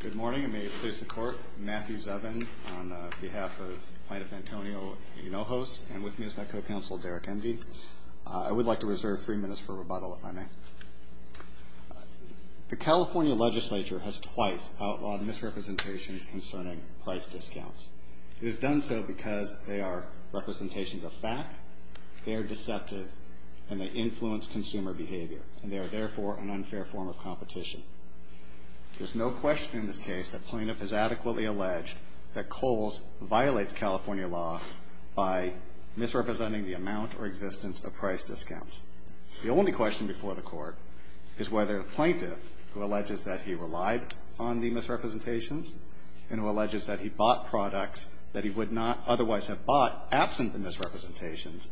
Good morning, and may it please the Court, Matthew Zubin on behalf of plaintiff Antonio Hinojos and with me is my co-counsel Derek Emdy. I would like to reserve three minutes for rebuttal, if I may. The California legislature has twice outlawed misrepresentations concerning price discounts. It has done so because they are representations of fact, they are deceptive, and they influence consumer behavior, There's no question in this case that plaintiff has adequately alleged that Kohl's violates California law by misrepresenting the amount or existence of price discounts. The only question before the Court is whether the plaintiff, who alleges that he relied on the misrepresentations and who alleges that he bought products that he would not otherwise have bought absent the misrepresentations,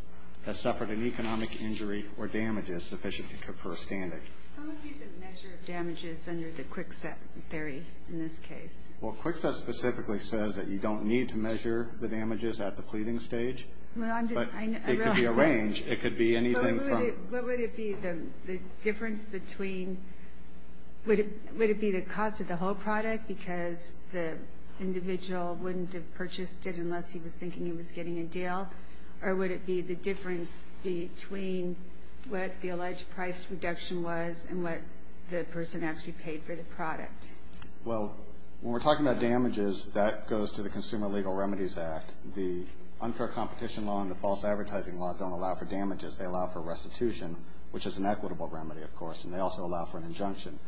has suffered an economic injury or damages sufficient to confer a standard. How would you measure damages under the Kwikset theory in this case? Well, Kwikset specifically says that you don't need to measure the damages at the pleading stage. It could be a range, it could be anything. What would it be the difference between, would it be the cost of the whole product because the individual wouldn't have purchased it unless he was thinking he was getting a deal, or would it be the difference between what the alleged price reduction was and what the person actually paid for the product? Well, when we're talking about damages, that goes to the Consumer Legal Remedies Act. The unfair competition law and the false advertising law don't allow for damages, they allow for restitution, which is an equitable remedy, of course, and they also allow for an injunction.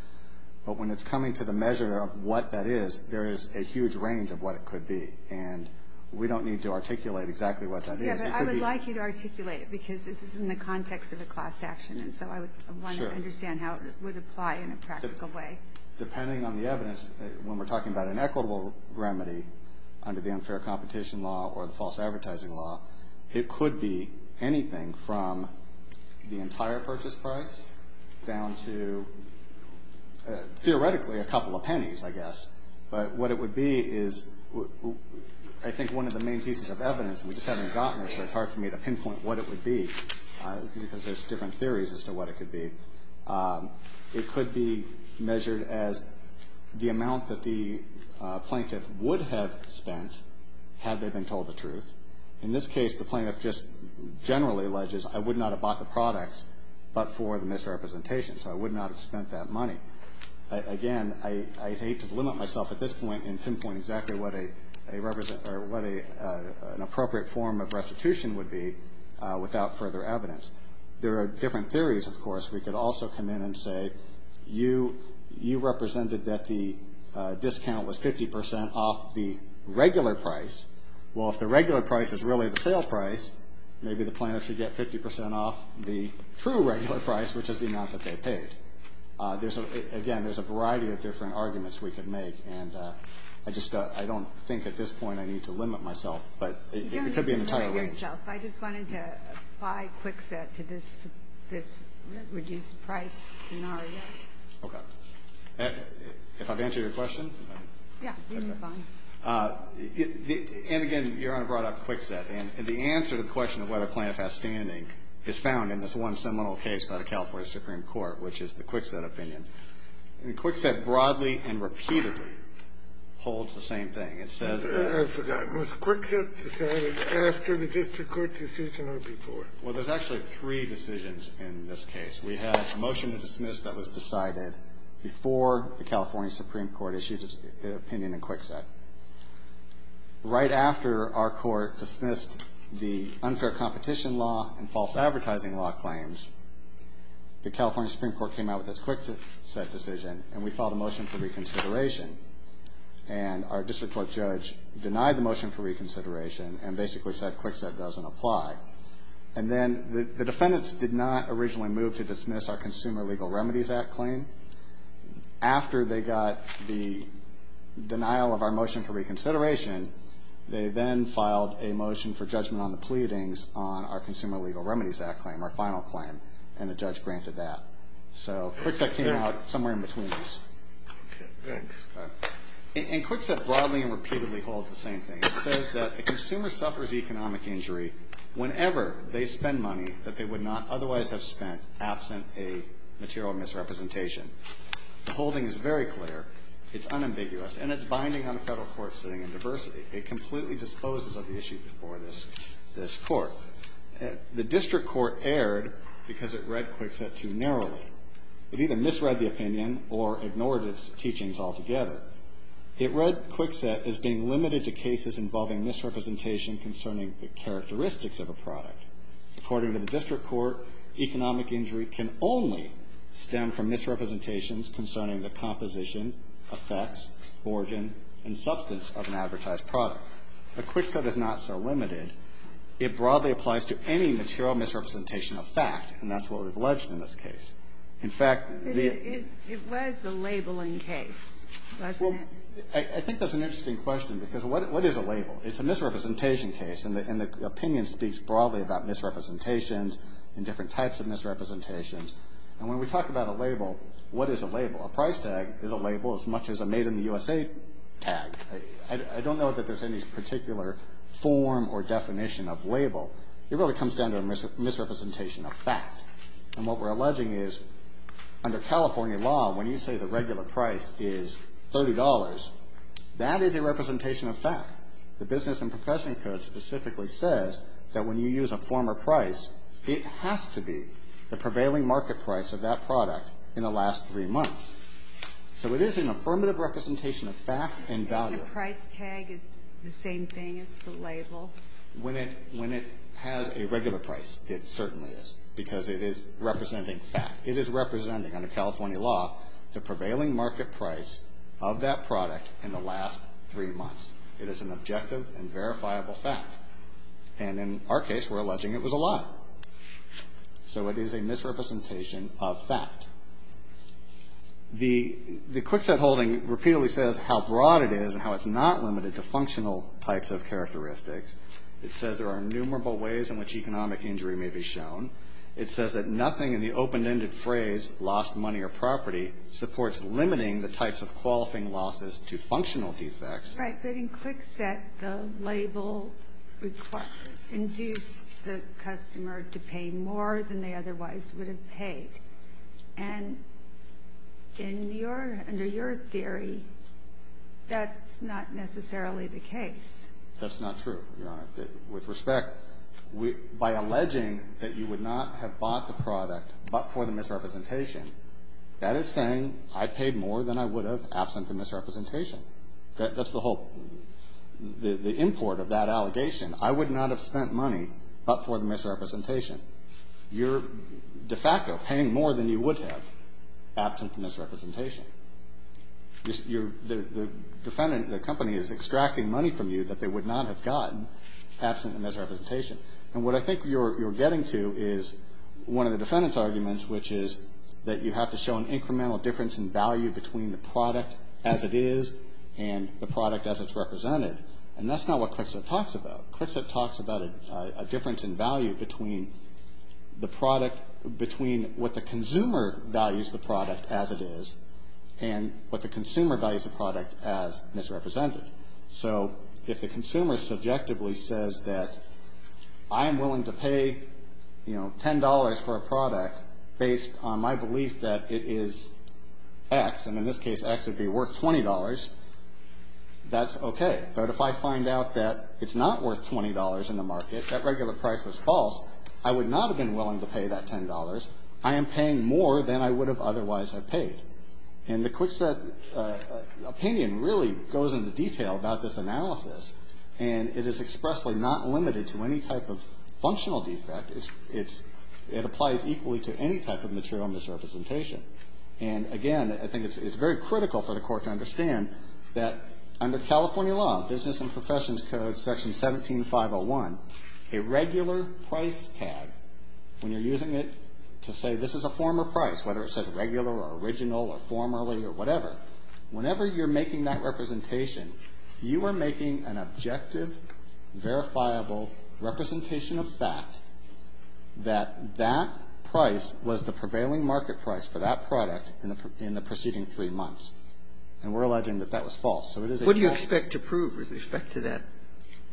But when it's coming to the measure of what that is, there is a huge range of what it could be, and we don't need to articulate exactly what that is. Yeah, but I would like you to articulate it because this is in the context of a class action, and so I would want to understand how it would apply in a practical way. Depending on the evidence, when we're talking about an equitable remedy under the unfair competition law or the false advertising law, it could be anything from the entire purchase price down to, theoretically, a couple of pennies, I guess. But what it would be is, I think, one of the main pieces of evidence, and we just haven't gotten it, so it's hard for me to pinpoint what it would be because there's different theories as to what it could be. It could be measured as the amount that the plaintiff would have spent had they been told the truth. In this case, the plaintiff just generally alleges, I would not have bought the products but for the misrepresentation, so I would not have spent that money. Again, I hate to limit myself at this point in pinpointing exactly what an appropriate form of restitution would be without further evidence. There are different theories, of course. We could also come in and say, you represented that the discount was 50% off the regular price. Well, if the regular price is really the sale price, maybe the plaintiff should get 50% off the true regular price, which is the amount that they paid. Again, there's a variety of different arguments we could make, and I don't think at this point I need to limit myself, but it could be an entire list. You don't need to limit yourself. I just wanted to apply Kwikset to this reduced price scenario. Okay. If I've answered your question? Yeah, you've been fine. And, again, Your Honor brought up Kwikset. And the answer to the question of whether a plaintiff has standing is found in this one seminal case by the California Supreme Court, which is the Kwikset opinion. And Kwikset broadly and repeatedly holds the same thing. It says that ---- I forgot. Was Kwikset decided after the district court decision or before? Well, there's actually three decisions in this case. We had a motion to dismiss that was decided before the California Supreme Court issued its opinion in Kwikset. Right after our court dismissed the unfair competition law and false advertising law claims, the California Supreme Court came out with its Kwikset decision, and we filed a motion for reconsideration. And our district court judge denied the motion for reconsideration and basically said Kwikset doesn't apply. And then the defendants did not originally move to dismiss our Consumer Legal Remedies Act claim. After they got the denial of our motion for reconsideration, they then filed a motion for judgment on the pleadings on our Consumer Legal Remedies Act claim, our final claim, and the judge granted that. So Kwikset came out somewhere in between these. Okay, thanks. And Kwikset broadly and repeatedly holds the same thing. It says that a consumer suffers economic injury whenever they spend money that they would not otherwise have spent absent a material misrepresentation. The holding is very clear. It's unambiguous, and it's binding on a federal court sitting in diversity. It completely disposes of the issue before this court. The district court erred because it read Kwikset too narrowly. It either misread the opinion or ignored its teachings altogether. It read Kwikset as being limited to cases involving misrepresentation concerning the characteristics of a product. According to the district court, economic injury can only stem from misrepresentations concerning the composition, effects, origin, and substance of an advertised product. But Kwikset is not so limited. It broadly applies to any material misrepresentation of fact, and that's what we've alleged in this case. In fact, the ---- It was a labeling case, wasn't it? Well, I think that's an interesting question because what is a label? It's a misrepresentation case, and the opinion speaks broadly about misrepresentations and different types of misrepresentations. And when we talk about a label, what is a label? A price tag is a label as much as a made-in-the-USA tag. I don't know that there's any particular form or definition of label. It really comes down to a misrepresentation of fact. And what we're alleging is under California law, when you say the regular price is $30, that is a representation of fact. The Business and Profession Code specifically says that when you use a former price, it has to be the prevailing market price of that product in the last three months. So it is an affirmative representation of fact and value. You're saying the price tag is the same thing as the label? When it has a regular price, it certainly is because it is representing fact. It is representing, under California law, the prevailing market price of that product in the last three months. It is an objective and verifiable fact. And in our case, we're alleging it was a lie. So it is a misrepresentation of fact. The QuickSet holding repeatedly says how broad it is and how it's not limited to functional types of characteristics. It says there are innumerable ways in which economic injury may be shown. It says that nothing in the open-ended phrase, lost money or property, supports limiting the types of qualifying losses to functional defects. Right, but in QuickSet, the label would induce the customer to pay more than they otherwise would have paid. And under your theory, that's not necessarily the case. That's not true, Your Honor. With respect, by alleging that you would not have bought the product but for the misrepresentation, that is saying I paid more than I would have absent the misrepresentation. That's the whole import of that allegation. I would not have spent money but for the misrepresentation. You're de facto paying more than you would have absent the misrepresentation. The company is extracting money from you that they would not have gotten absent the misrepresentation. And what I think you're getting to is one of the defendant's arguments, which is that you have to show an incremental difference in value between the product as it is and the product as it's represented. And that's not what QuickSet talks about. QuickSet talks about a difference in value between the product, between what the consumer values the product as it is and what the consumer values the product as misrepresented. So if the consumer subjectively says that I am willing to pay, you know, $10 for a product based on my belief that it is X, and in this case X would be worth $20, that's okay. But if I find out that it's not worth $20 in the market, that regular price was false, I would not have been willing to pay that $10. I am paying more than I would have otherwise have paid. And the QuickSet opinion really goes into detail about this analysis, and it is expressly not limited to any type of functional defect. It applies equally to any type of material misrepresentation. And, again, I think it's very critical for the court to understand that under California law, business and professions code section 17501, a regular price tag, when you're using it to say this is a former price, whether it says regular or original or formerly or whatever, whenever you're making that representation, you are making an objective, verifiable representation of fact that that price was the prevailing market price for that product in the preceding three months. And we're alleging that that was false. So it is a false. What do you expect to prove with respect to that?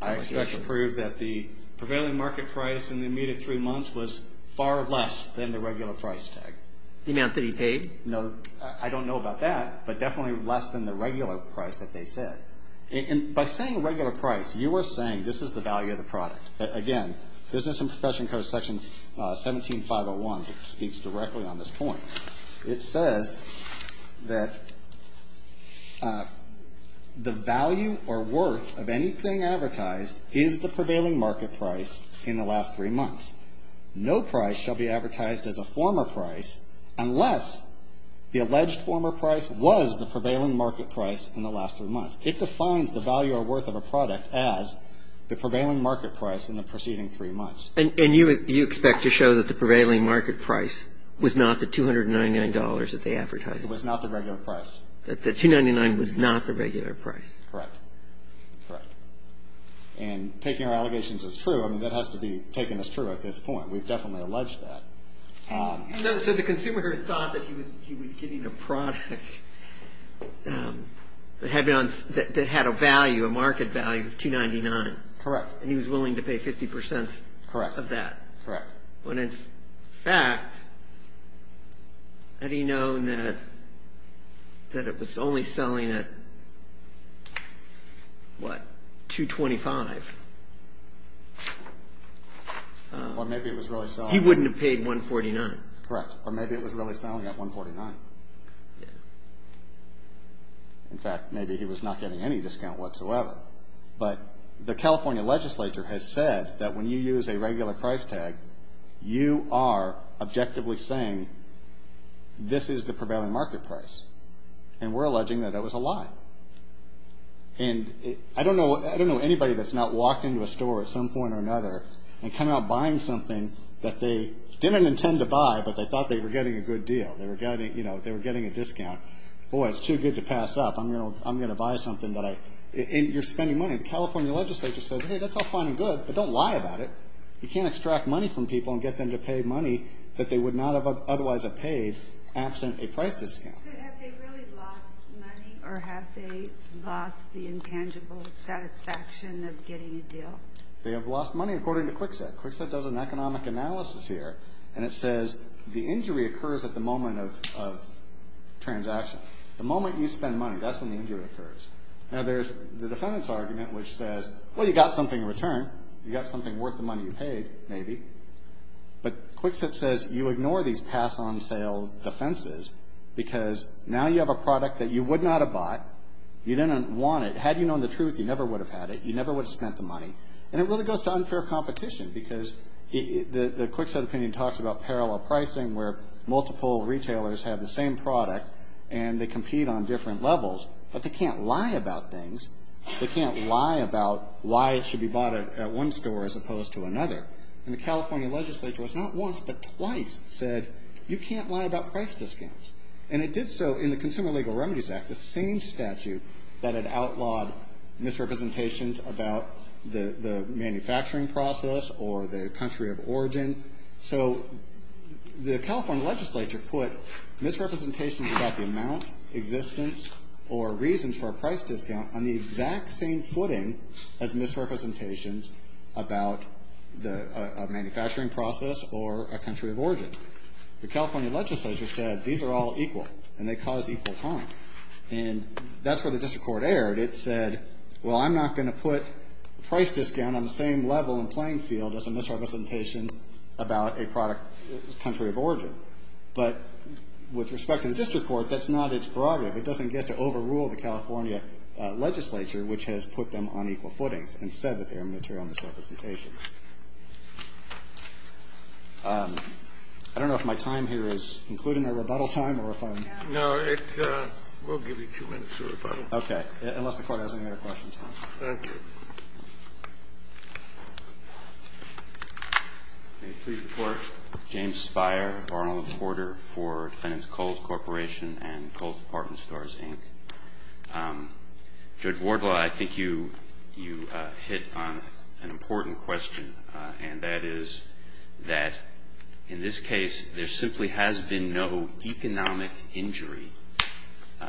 I expect to prove that the prevailing market price in the immediate three months was far less than the regular price tag. The amount that he paid? No, I don't know about that, but definitely less than the regular price that they said. And by saying regular price, you are saying this is the value of the product. Again, business and professions code section 17501 speaks directly on this point. It says that the value or worth of anything advertised is the prevailing market price in the last three months. No price shall be advertised as a former price unless the alleged former price was the prevailing market price in the last three months. It defines the value or worth of a product as the prevailing market price in the preceding three months. And you expect to show that the prevailing market price was not the $299 that they advertised? It was not the regular price. The $299 was not the regular price. Correct. Correct. And taking our allegations as true, I mean, that has to be taken as true at this point. We've definitely alleged that. So the consumer thought that he was getting a product that had a value, a market value of $299. Correct. And he was willing to pay 50% of that. Correct. But in fact, had he known that it was only selling at, what, $225? Or maybe it was really selling at He wouldn't have paid $149. Correct. Or maybe it was really selling at $149. Yes. In fact, maybe he was not getting any discount whatsoever. But the California legislature has said that when you use a regular price tag, you are objectively saying this is the prevailing market price. And we're alleging that it was a lie. And I don't know anybody that's not walked into a store at some point or another and come out buying something that they didn't intend to buy, but they thought they were getting a good deal. They were getting a discount. Boy, it's too good to pass up. I'm going to buy something that I And you're spending money. The California legislature says, hey, that's all fine and good, but don't lie about it. You can't extract money from people and get them to pay money that they would not have otherwise have paid absent a price discount. They have lost money, according to Kwikset. Kwikset does an economic analysis here, and it says the injury occurs at the moment of transaction. The moment you spend money, that's when the injury occurs. Now, there's the defendant's argument, which says, well, you got something in return. You got something worth the money you paid, maybe. But Kwikset says you ignore these pass-on-sale defenses because now you have a product that you would not have bought. You didn't want it. Had you known the truth, you never would have had it. You never would have spent the money. And it really goes to unfair competition because the Kwikset opinion talks about parallel pricing where multiple retailers have the same product and they compete on different levels, but they can't lie about things. They can't lie about why it should be bought at one store as opposed to another. And the California legislature has not once but twice said you can't lie about price discounts. And it did so in the Consumer Legal Remedies Act, the same statute that had outlawed misrepresentations about the manufacturing process or the country of origin. So the California legislature put misrepresentations about the amount, existence, or reasons for a price discount on the exact same footing as misrepresentations about a manufacturing process or a country of origin. The California legislature said these are all equal and they cause equal harm. And that's where the district court erred. It said, well, I'm not going to put a price discount on the same level and playing field as a misrepresentation about a country of origin. But with respect to the district court, that's not its prerogative. It doesn't get to overrule the California legislature, which has put them on equal footings and said that they are material misrepresentations. I don't know if my time here is concluding a rebuttal time or if I'm going to be able to continue. No, we'll give you two minutes for rebuttal. Okay. Unless the Court has any other questions. Thank you. May it please the Court. James Speier, Borough Reporter for Defendants Coles Corporation and Coles Department of Justice, and I'm here to ask a question. I have a question for Judge Wardlaw. I think you hit on an important question, and that is that in this case there simply has been no economic injury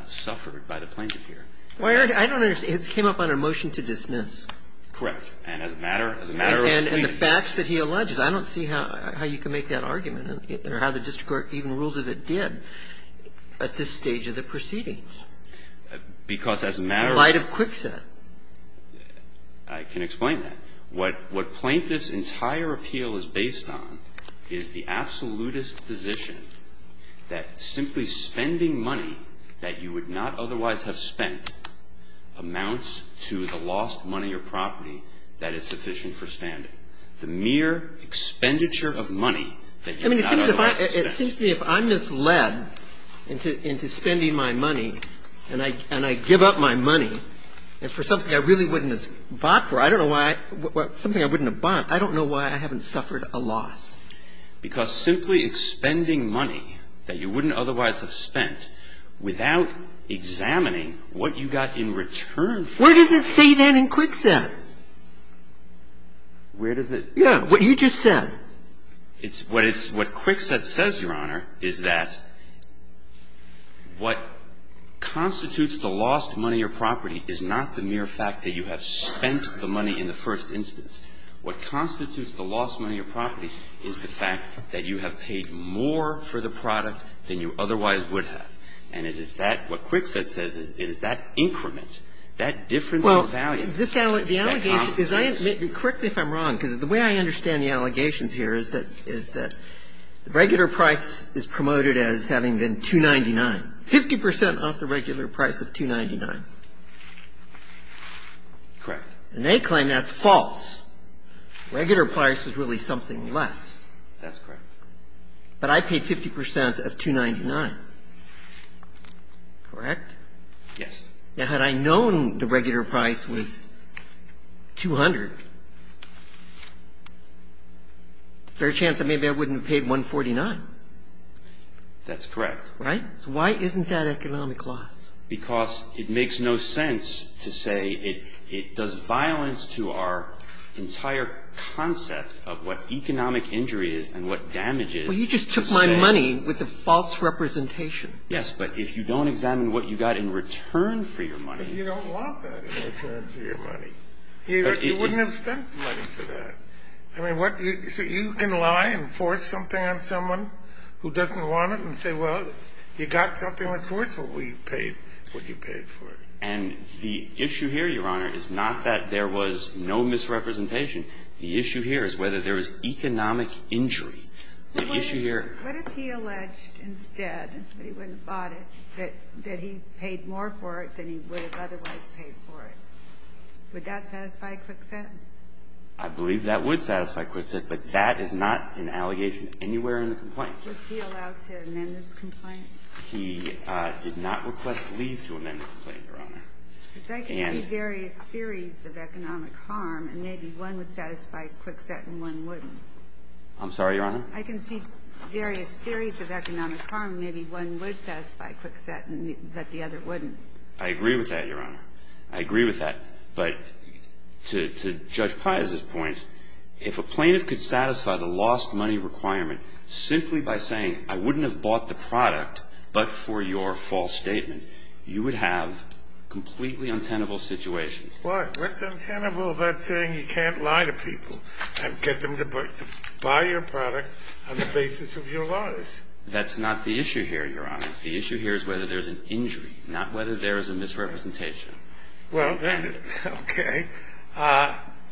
suffered by the plaintiff here. I don't understand. It came up on a motion to dismiss. Correct. And as a matter of proceeding. And the facts that he alleges. I don't see how you can make that argument or how the district court even ruled that it did at this stage of the proceeding. Because as a matter of. In light of Kwikset. I can explain that. What plaintiff's entire appeal is based on is the absolutist position that simply spending money that you would not otherwise have spent amounts to the lost money or property that is sufficient for standing. The mere expenditure of money that you would not otherwise have spent. I mean, it seems to me if I'm misled into spending my money and I give up my money for something I really wouldn't have bought for. I don't know why. Something I wouldn't have bought. I don't know why I haven't suffered a loss. Because simply expending money that you wouldn't otherwise have spent without examining what you got in return. Where does it say that in Kwikset? Where does it? Yeah. What you just said. It's what Kwikset says, Your Honor, is that what constitutes the lost money or property is not the mere fact that you have spent the money in the first instance. What constitutes the lost money or property is the fact that you have paid more for the product than you otherwise would have. And it is that what Kwikset says is that increment, that difference in value. That costs you. The allegation is I am --. Correct me if I'm wrong, because the way I understand the allegations here is that the regular price is promoted as having been $2.99, 50 percent off the regular price of $2.99. Correct. And they claim that's false. Regular price is really something less. That's correct. But I paid 50 percent of $2.99. Correct? Yes. Now, had I known the regular price was 200, fair chance that maybe I wouldn't have paid $1.49. That's correct. Right? So why isn't that economic loss? Because it makes no sense to say it does violence to our entire concept of what economic injury is and what damage is. Well, you just took my money with a false representation. Yes, but if you don't examine what you got in return for your money --. But you don't want that in return for your money. You wouldn't have spent money for that. I mean, what you see, you can lie and force something on someone who doesn't want it and say, well, you got something with force, but we paid what you paid for it. And the issue here, Your Honor, is not that there was no misrepresentation. The issue here is whether there was economic injury. The issue here --. What if he alleged instead that he wouldn't have bought it, that he paid more for it than he would have otherwise paid for it? Would that satisfy Kwikset? I believe that would satisfy Kwikset, but that is not an allegation anywhere in the complaint. Was he allowed to amend this complaint? He did not request leave to amend the complaint, Your Honor. Because I can see various theories of economic harm, and maybe one would satisfy Kwikset and one wouldn't. I'm sorry, Your Honor? I can see various theories of economic harm. Maybe one would satisfy Kwikset, but the other wouldn't. I agree with that, Your Honor. I agree with that. But to Judge Pius's point, if a plaintiff could satisfy the lost money requirement simply by saying, I wouldn't have bought the product, but for your false statement, you would have completely untenable situations. Well, what's untenable about saying you can't lie to people and get them to buy your product on the basis of your lies? That's not the issue here, Your Honor. The issue here is whether there's an injury, not whether there is a misrepresentation. Well, okay.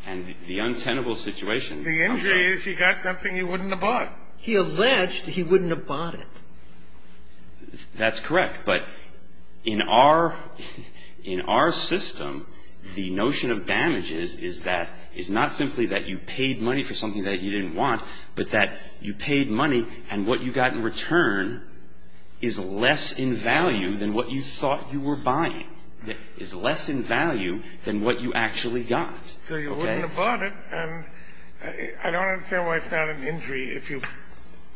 And the untenable situation. The injury is he got something he wouldn't have bought. He alleged he wouldn't have bought it. That's correct. But in our – in our system, the notion of damages is that – is not simply that you paid money for something that you didn't want, but that you paid money and what you got in return is less in value than what you thought you were buying. It's less in value than what you actually got. So you wouldn't have bought it. And I don't understand why it's not an injury. If you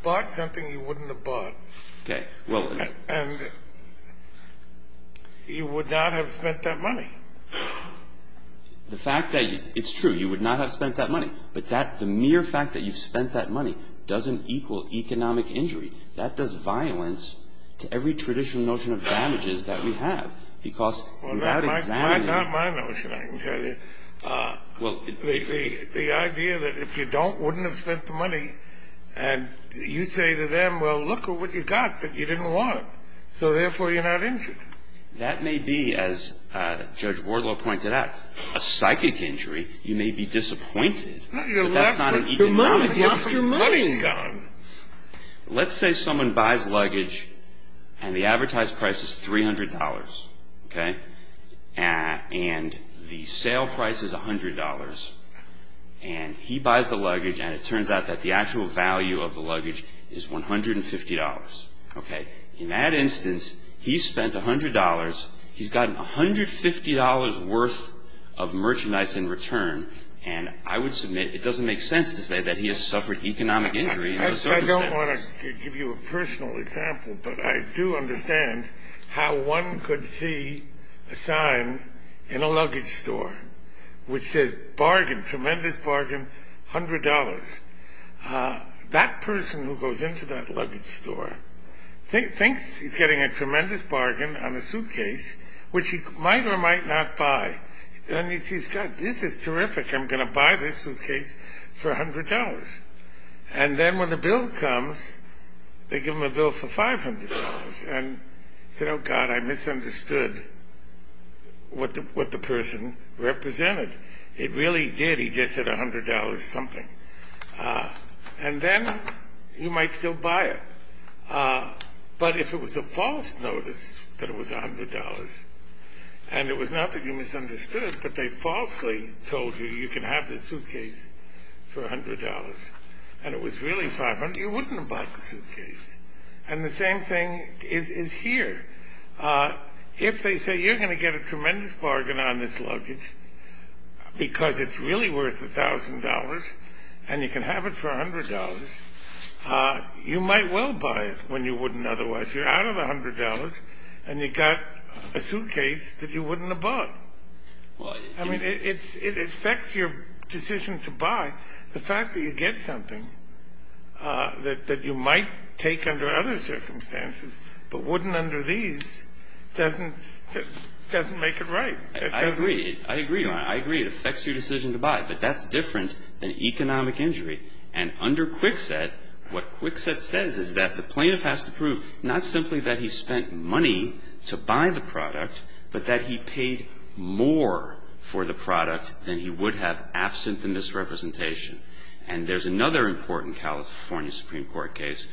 bought something you wouldn't have bought. Okay. And you would not have spent that money. The fact that – it's true. You would not have spent that money. But that – the mere fact that you've spent that money doesn't equal economic injury. That does violence to every traditional notion of damages that we have. Because without examining – Well, that's not my notion, I can tell you. Well – The idea that if you don't, wouldn't have spent the money, and you say to them, well, look at what you got that you didn't want. So, therefore, you're not injured. That may be, as Judge Wardlow pointed out, a psychic injury. You may be disappointed. But that's not an economic injury. You lost your money. Let's say someone buys luggage and the advertised price is $300. Okay. And the sale price is $100. And he buys the luggage and it turns out that the actual value of the luggage is $150. Okay. In that instance, he spent $100. He's gotten $150 worth of merchandise in return. And I would submit it doesn't make sense to say that he has suffered economic injury in those circumstances. I don't want to give you a personal example, but I do understand how one could see a sign in a luggage store which says, bargain, tremendous bargain, $100. That person who goes into that luggage store thinks he's getting a tremendous bargain on a suitcase, which he might or might not buy. And he says, God, this is terrific. I'm going to buy this suitcase for $100. And then when the bill comes, they give him a bill for $500. And he said, oh, God, I misunderstood what the person represented. It really did. He just said $100 something. And then you might still buy it. But if it was a false notice that it was $100 and it was not that you misunderstood, but they falsely told you you can have this suitcase for $100 and it was really $500, you wouldn't have bought the suitcase. And the same thing is here. If they say you're going to get a tremendous bargain on this luggage because it's really worth $1,000 and you can have it for $100, you might well buy it when you wouldn't otherwise. You're out of $100 and you've got a suitcase that you wouldn't have bought. I mean, it affects your decision to buy. The fact that you get something that you might take under other circumstances but wouldn't under these doesn't make it right. I agree. I agree, Your Honor. I agree. It affects your decision to buy. But that's different than economic injury. And under Kwikset, what Kwikset says is that the plaintiff has to prove not simply that he spent money to buy the product, but that he paid more for the product than he would have absent the misrepresentation. And there's another important California Supreme Court case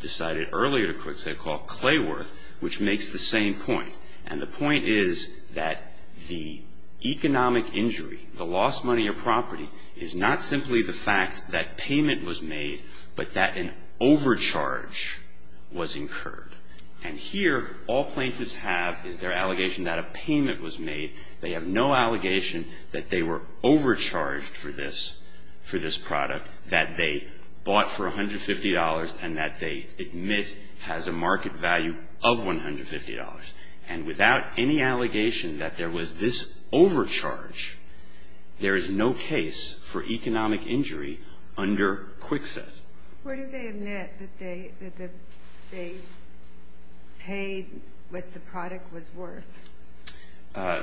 decided earlier to Kwikset called Clayworth, which makes the same point. And the point is that the economic injury, the lost money or property, is not simply the fact that payment was made but that an overcharge was incurred. And here, all plaintiffs have is their allegation that a payment was made. They have no allegation that they were overcharged for this product, that they bought for $150 and that they admit has a market value of $150. And without any allegation that there was this overcharge, there is no case for economic injury under Kwikset. Where did they admit that they paid what the product was worth?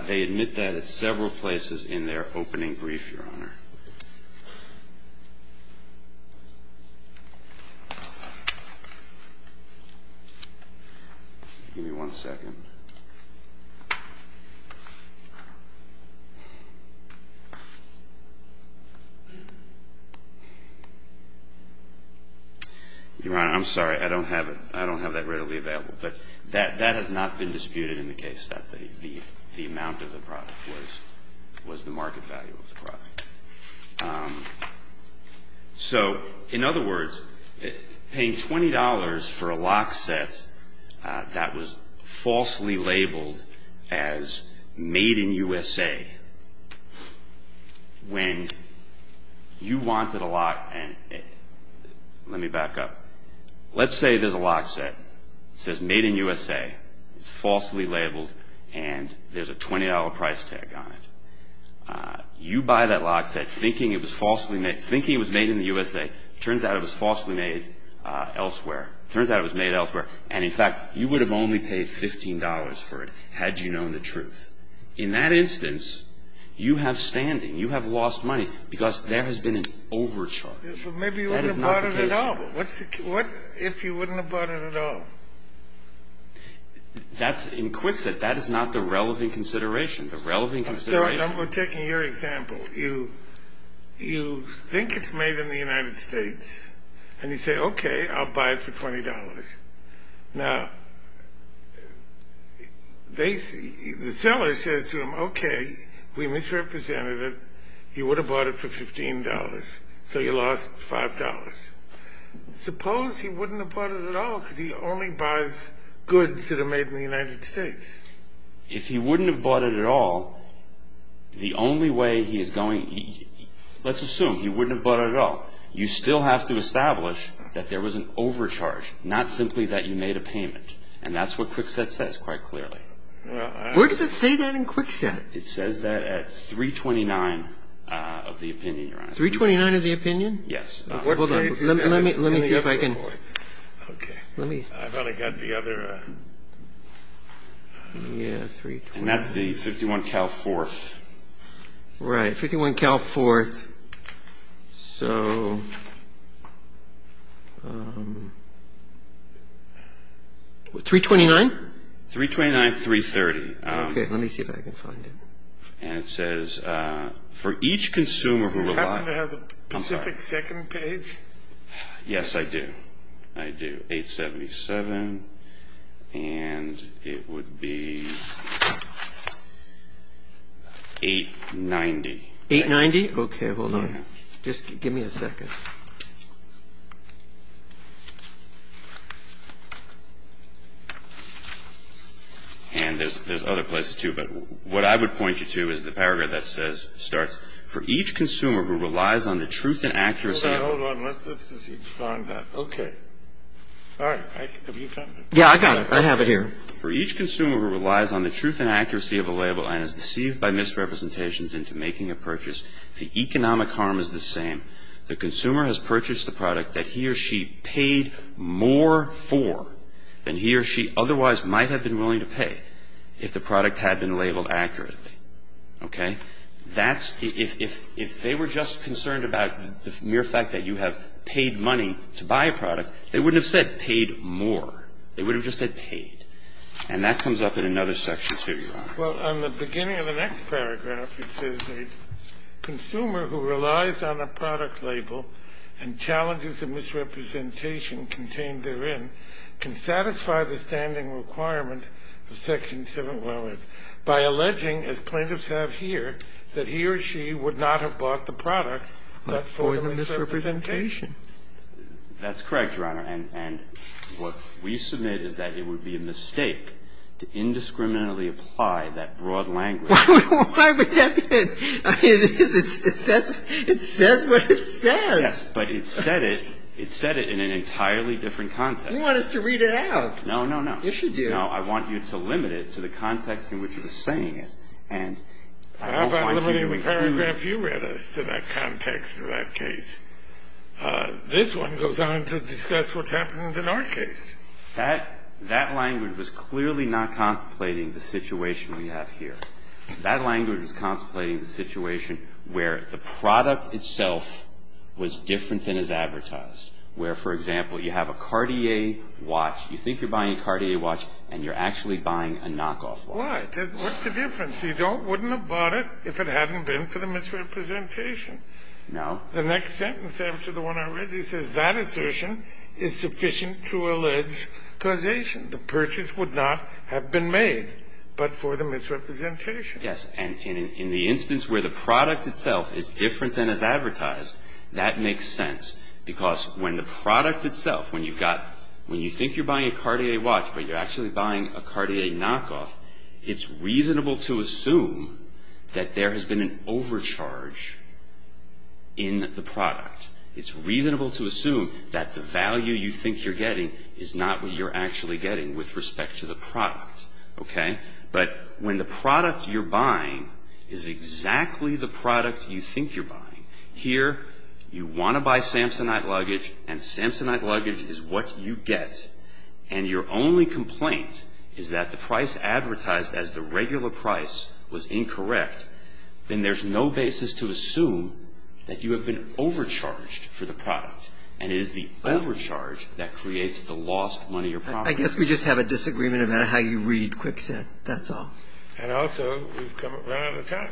They admit that at several places in their opening brief, Your Honor. Give me one second. Your Honor, I'm sorry. I don't have it. But that has not been disputed in the case that the amount of the product was the market value of the product. So in other words, paying $20 for a lock set that was falsely labeled as made in USA, when you wanted a lock and let me back up. Let's say there's a lock set. It says made in USA. It's falsely labeled and there's a $20 price tag on it. You buy that lock set thinking it was falsely made, thinking it was made in the USA. It turns out it was falsely made elsewhere. It turns out it was made elsewhere. And in fact, you would have only paid $15 for it had you known the truth. In that instance, you have standing. You have lost money because there has been an overcharge. Maybe you wouldn't have bought it at all. What if you wouldn't have bought it at all? That's in quicksand. That is not the relevant consideration. The relevant consideration. I'm going to take your example. You think it's made in the United States and you say, okay, I'll buy it for $20. Now, the seller says to him, okay, we misrepresented it. You would have bought it for $15. So you lost $5. Suppose he wouldn't have bought it at all because he only buys goods that are made in the United States. If he wouldn't have bought it at all, the only way he is going to, let's assume he wouldn't have bought it at all. You still have to establish that there was an overcharge, not simply that you made a payment. And that's what quicksand says quite clearly. Where does it say that in quicksand? It says that at 329 of the opinion, Your Honor. 329 of the opinion? Yes. Hold on. Let me see if I can. Okay. Let me. I've only got the other. Yeah, 329. And that's the 51 Cal 4th. Right, 51 Cal 4th. Okay. So 329? 329, 330. Okay. Let me see if I can find it. And it says for each consumer who relies. Do you happen to have a specific second page? Yes, I do. I do. 877 and it would be 890. 890? Okay. Hold on. Just give me a second. And there's other places, too. But what I would point you to is the paragraph that says, starts, for each consumer who relies on the truth and accuracy. Hold on. Hold on. Let's see if we can find that. Okay. All right. Have you found it? Yeah, I got it. I have it here. Okay. For each consumer who relies on the truth and accuracy of a label and is deceived by misrepresentations into making a purchase, the economic harm is the same. The consumer has purchased the product that he or she paid more for than he or she otherwise might have been willing to pay if the product had been labeled accurately. Okay? If they were just concerned about the mere fact that you have paid money to buy a product, they wouldn't have said paid more. They would have just said paid. And that comes up in another section, too, Your Honor. Well, on the beginning of the next paragraph, it says, a consumer who relies on a product label and challenges the misrepresentation contained therein can satisfy the standing requirement of Section 711 by alleging, as plaintiffs have here, that he or she would not have bought the product but for the misrepresentation. That's correct, Your Honor. And what we submit is that it would be a mistake to indiscriminately apply that broad language. Why would that be? I mean, it is. It says what it says. Yes, but it said it. It said it in an entirely different context. You want us to read it out. No, no, no. You should do. No, I want you to limit it to the context in which you're saying it. And I don't want you to include. How about limiting the paragraph you read us to that context or that case? This one goes on to discuss what's happening in our case. That language was clearly not contemplating the situation we have here. That language was contemplating the situation where the product itself was different than is advertised, where, for example, you have a Cartier watch. You think you're buying a Cartier watch, and you're actually buying a knockoff watch. Why? What's the difference? He wouldn't have bought it if it hadn't been for the misrepresentation. No. The next sentence after the one I read, it says, that assertion is sufficient to allege causation. The purchase would not have been made but for the misrepresentation. Yes, and in the instance where the product itself is different than is advertised, that makes sense because when the product itself, when you've got, when you think you're buying a Cartier watch, but you're actually buying a Cartier knockoff, it's reasonable to assume that there has been an overcharge in the product. It's reasonable to assume that the value you think you're getting is not what you're actually getting with respect to the product, okay? But when the product you're buying is exactly the product you think you're buying, here you want to buy Samsonite luggage, and Samsonite luggage is what you get, and your only complaint is that the price advertised as the regular price was incorrect, then there's no basis to assume that you have been overcharged for the product and it is the overcharge that creates the lost money or property. I guess we just have a disagreement about how you read Kwikset. That's all. And also we've run out of time.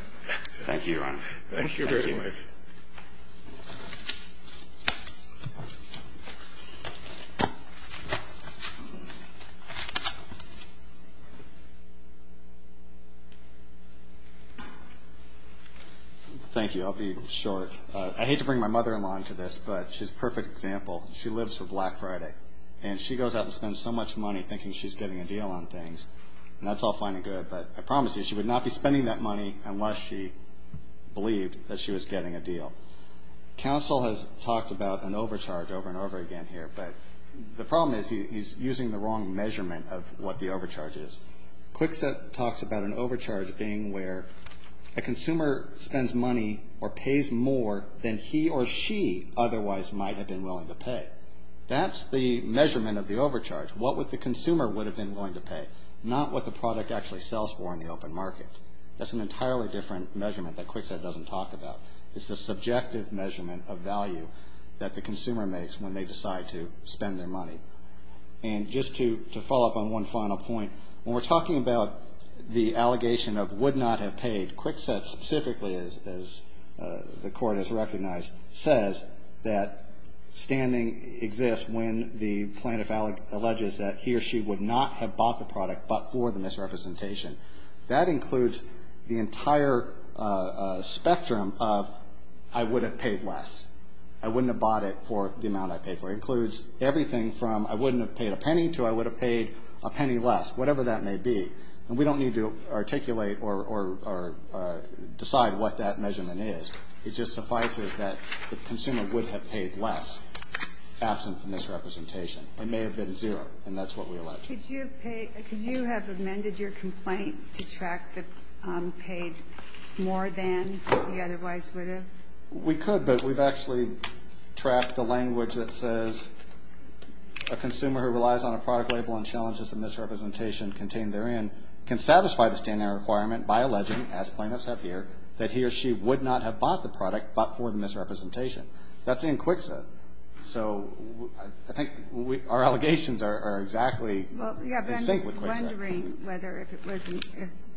Thank you very much. Thank you. Thank you. Thank you. I'll be short. I hate to bring my mother-in-law into this, but she's a perfect example. She lives for Black Friday, and she goes out and spends so much money thinking she's getting a deal on things, and that's all fine and good, but I promise you she would not be spending that money unless she believed that she was getting a deal. Counsel has talked about an overcharge over and over again here, but the problem is he's using the wrong measurement of what the overcharge is. Kwikset talks about an overcharge being where a consumer spends money or pays more than he or she otherwise might have been willing to pay. That's the measurement of the overcharge, what the consumer would have been willing to pay, not what the product actually sells for in the open market. That's an entirely different measurement that Kwikset doesn't talk about. It's the subjective measurement of value that the consumer makes when they decide to spend their money. And just to follow up on one final point, when we're talking about the allegation of would not have paid, Kwikset specifically, as the Court has recognized, says that standing exists when the plaintiff alleges that he or she would not have bought the product but for the misrepresentation. That includes the entire spectrum of I would have paid less. I wouldn't have bought it for the amount I paid for it. It includes everything from I wouldn't have paid a penny to I would have paid a penny less, whatever that may be. And we don't need to articulate or decide what that measurement is. It just suffices that the consumer would have paid less absent from misrepresentation. It may have been zero, and that's what we allege. Could you have amended your complaint to track the paid more than you otherwise would have? We could, but we've actually tracked the language that says, a consumer who relies on a product label and challenges the misrepresentation contained therein can satisfy the standing requirement by alleging, as plaintiffs have here, that he or she would not have bought the product but for the misrepresentation. That's in Kwikset. So I think our allegations are exactly in sync with Kwikset. Well, yeah, but I'm just wondering whether if it wasn't,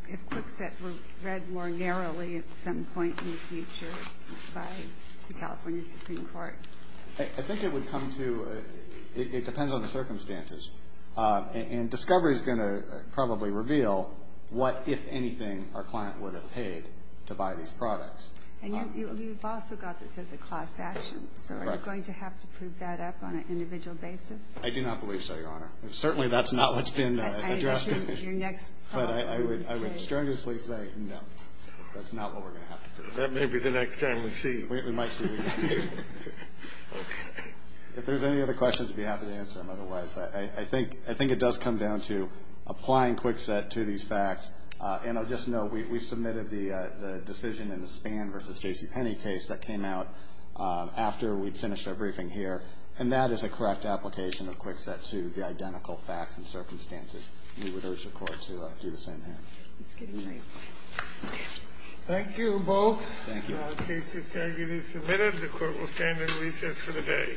if Kwikset were read more narrowly at some point in the future by the California Supreme Court. I think it would come to, it depends on the circumstances. And discovery is going to probably reveal what, if anything, our client would have paid to buy these products. And you've also got this as a class action. So are you going to have to prove that up on an individual basis? I do not believe so, Your Honor. Certainly that's not what's been addressed. But I would strenuously say no. That's not what we're going to have to prove. That may be the next time we see you. We might see you again. If there's any other questions, I'd be happy to answer them. Otherwise, I think it does come down to applying Kwikset to these facts. And I'll just note, we submitted the decision in the Spann v. J.C. Penney case that came out after we'd finished our briefing here. And that is a correct application of Kwikset to the identical facts and circumstances. We would urge the Court to do the same here. It's getting late. Okay. Thank you both. Thank you. The case is currently submitted. The Court will stand in recess for the day.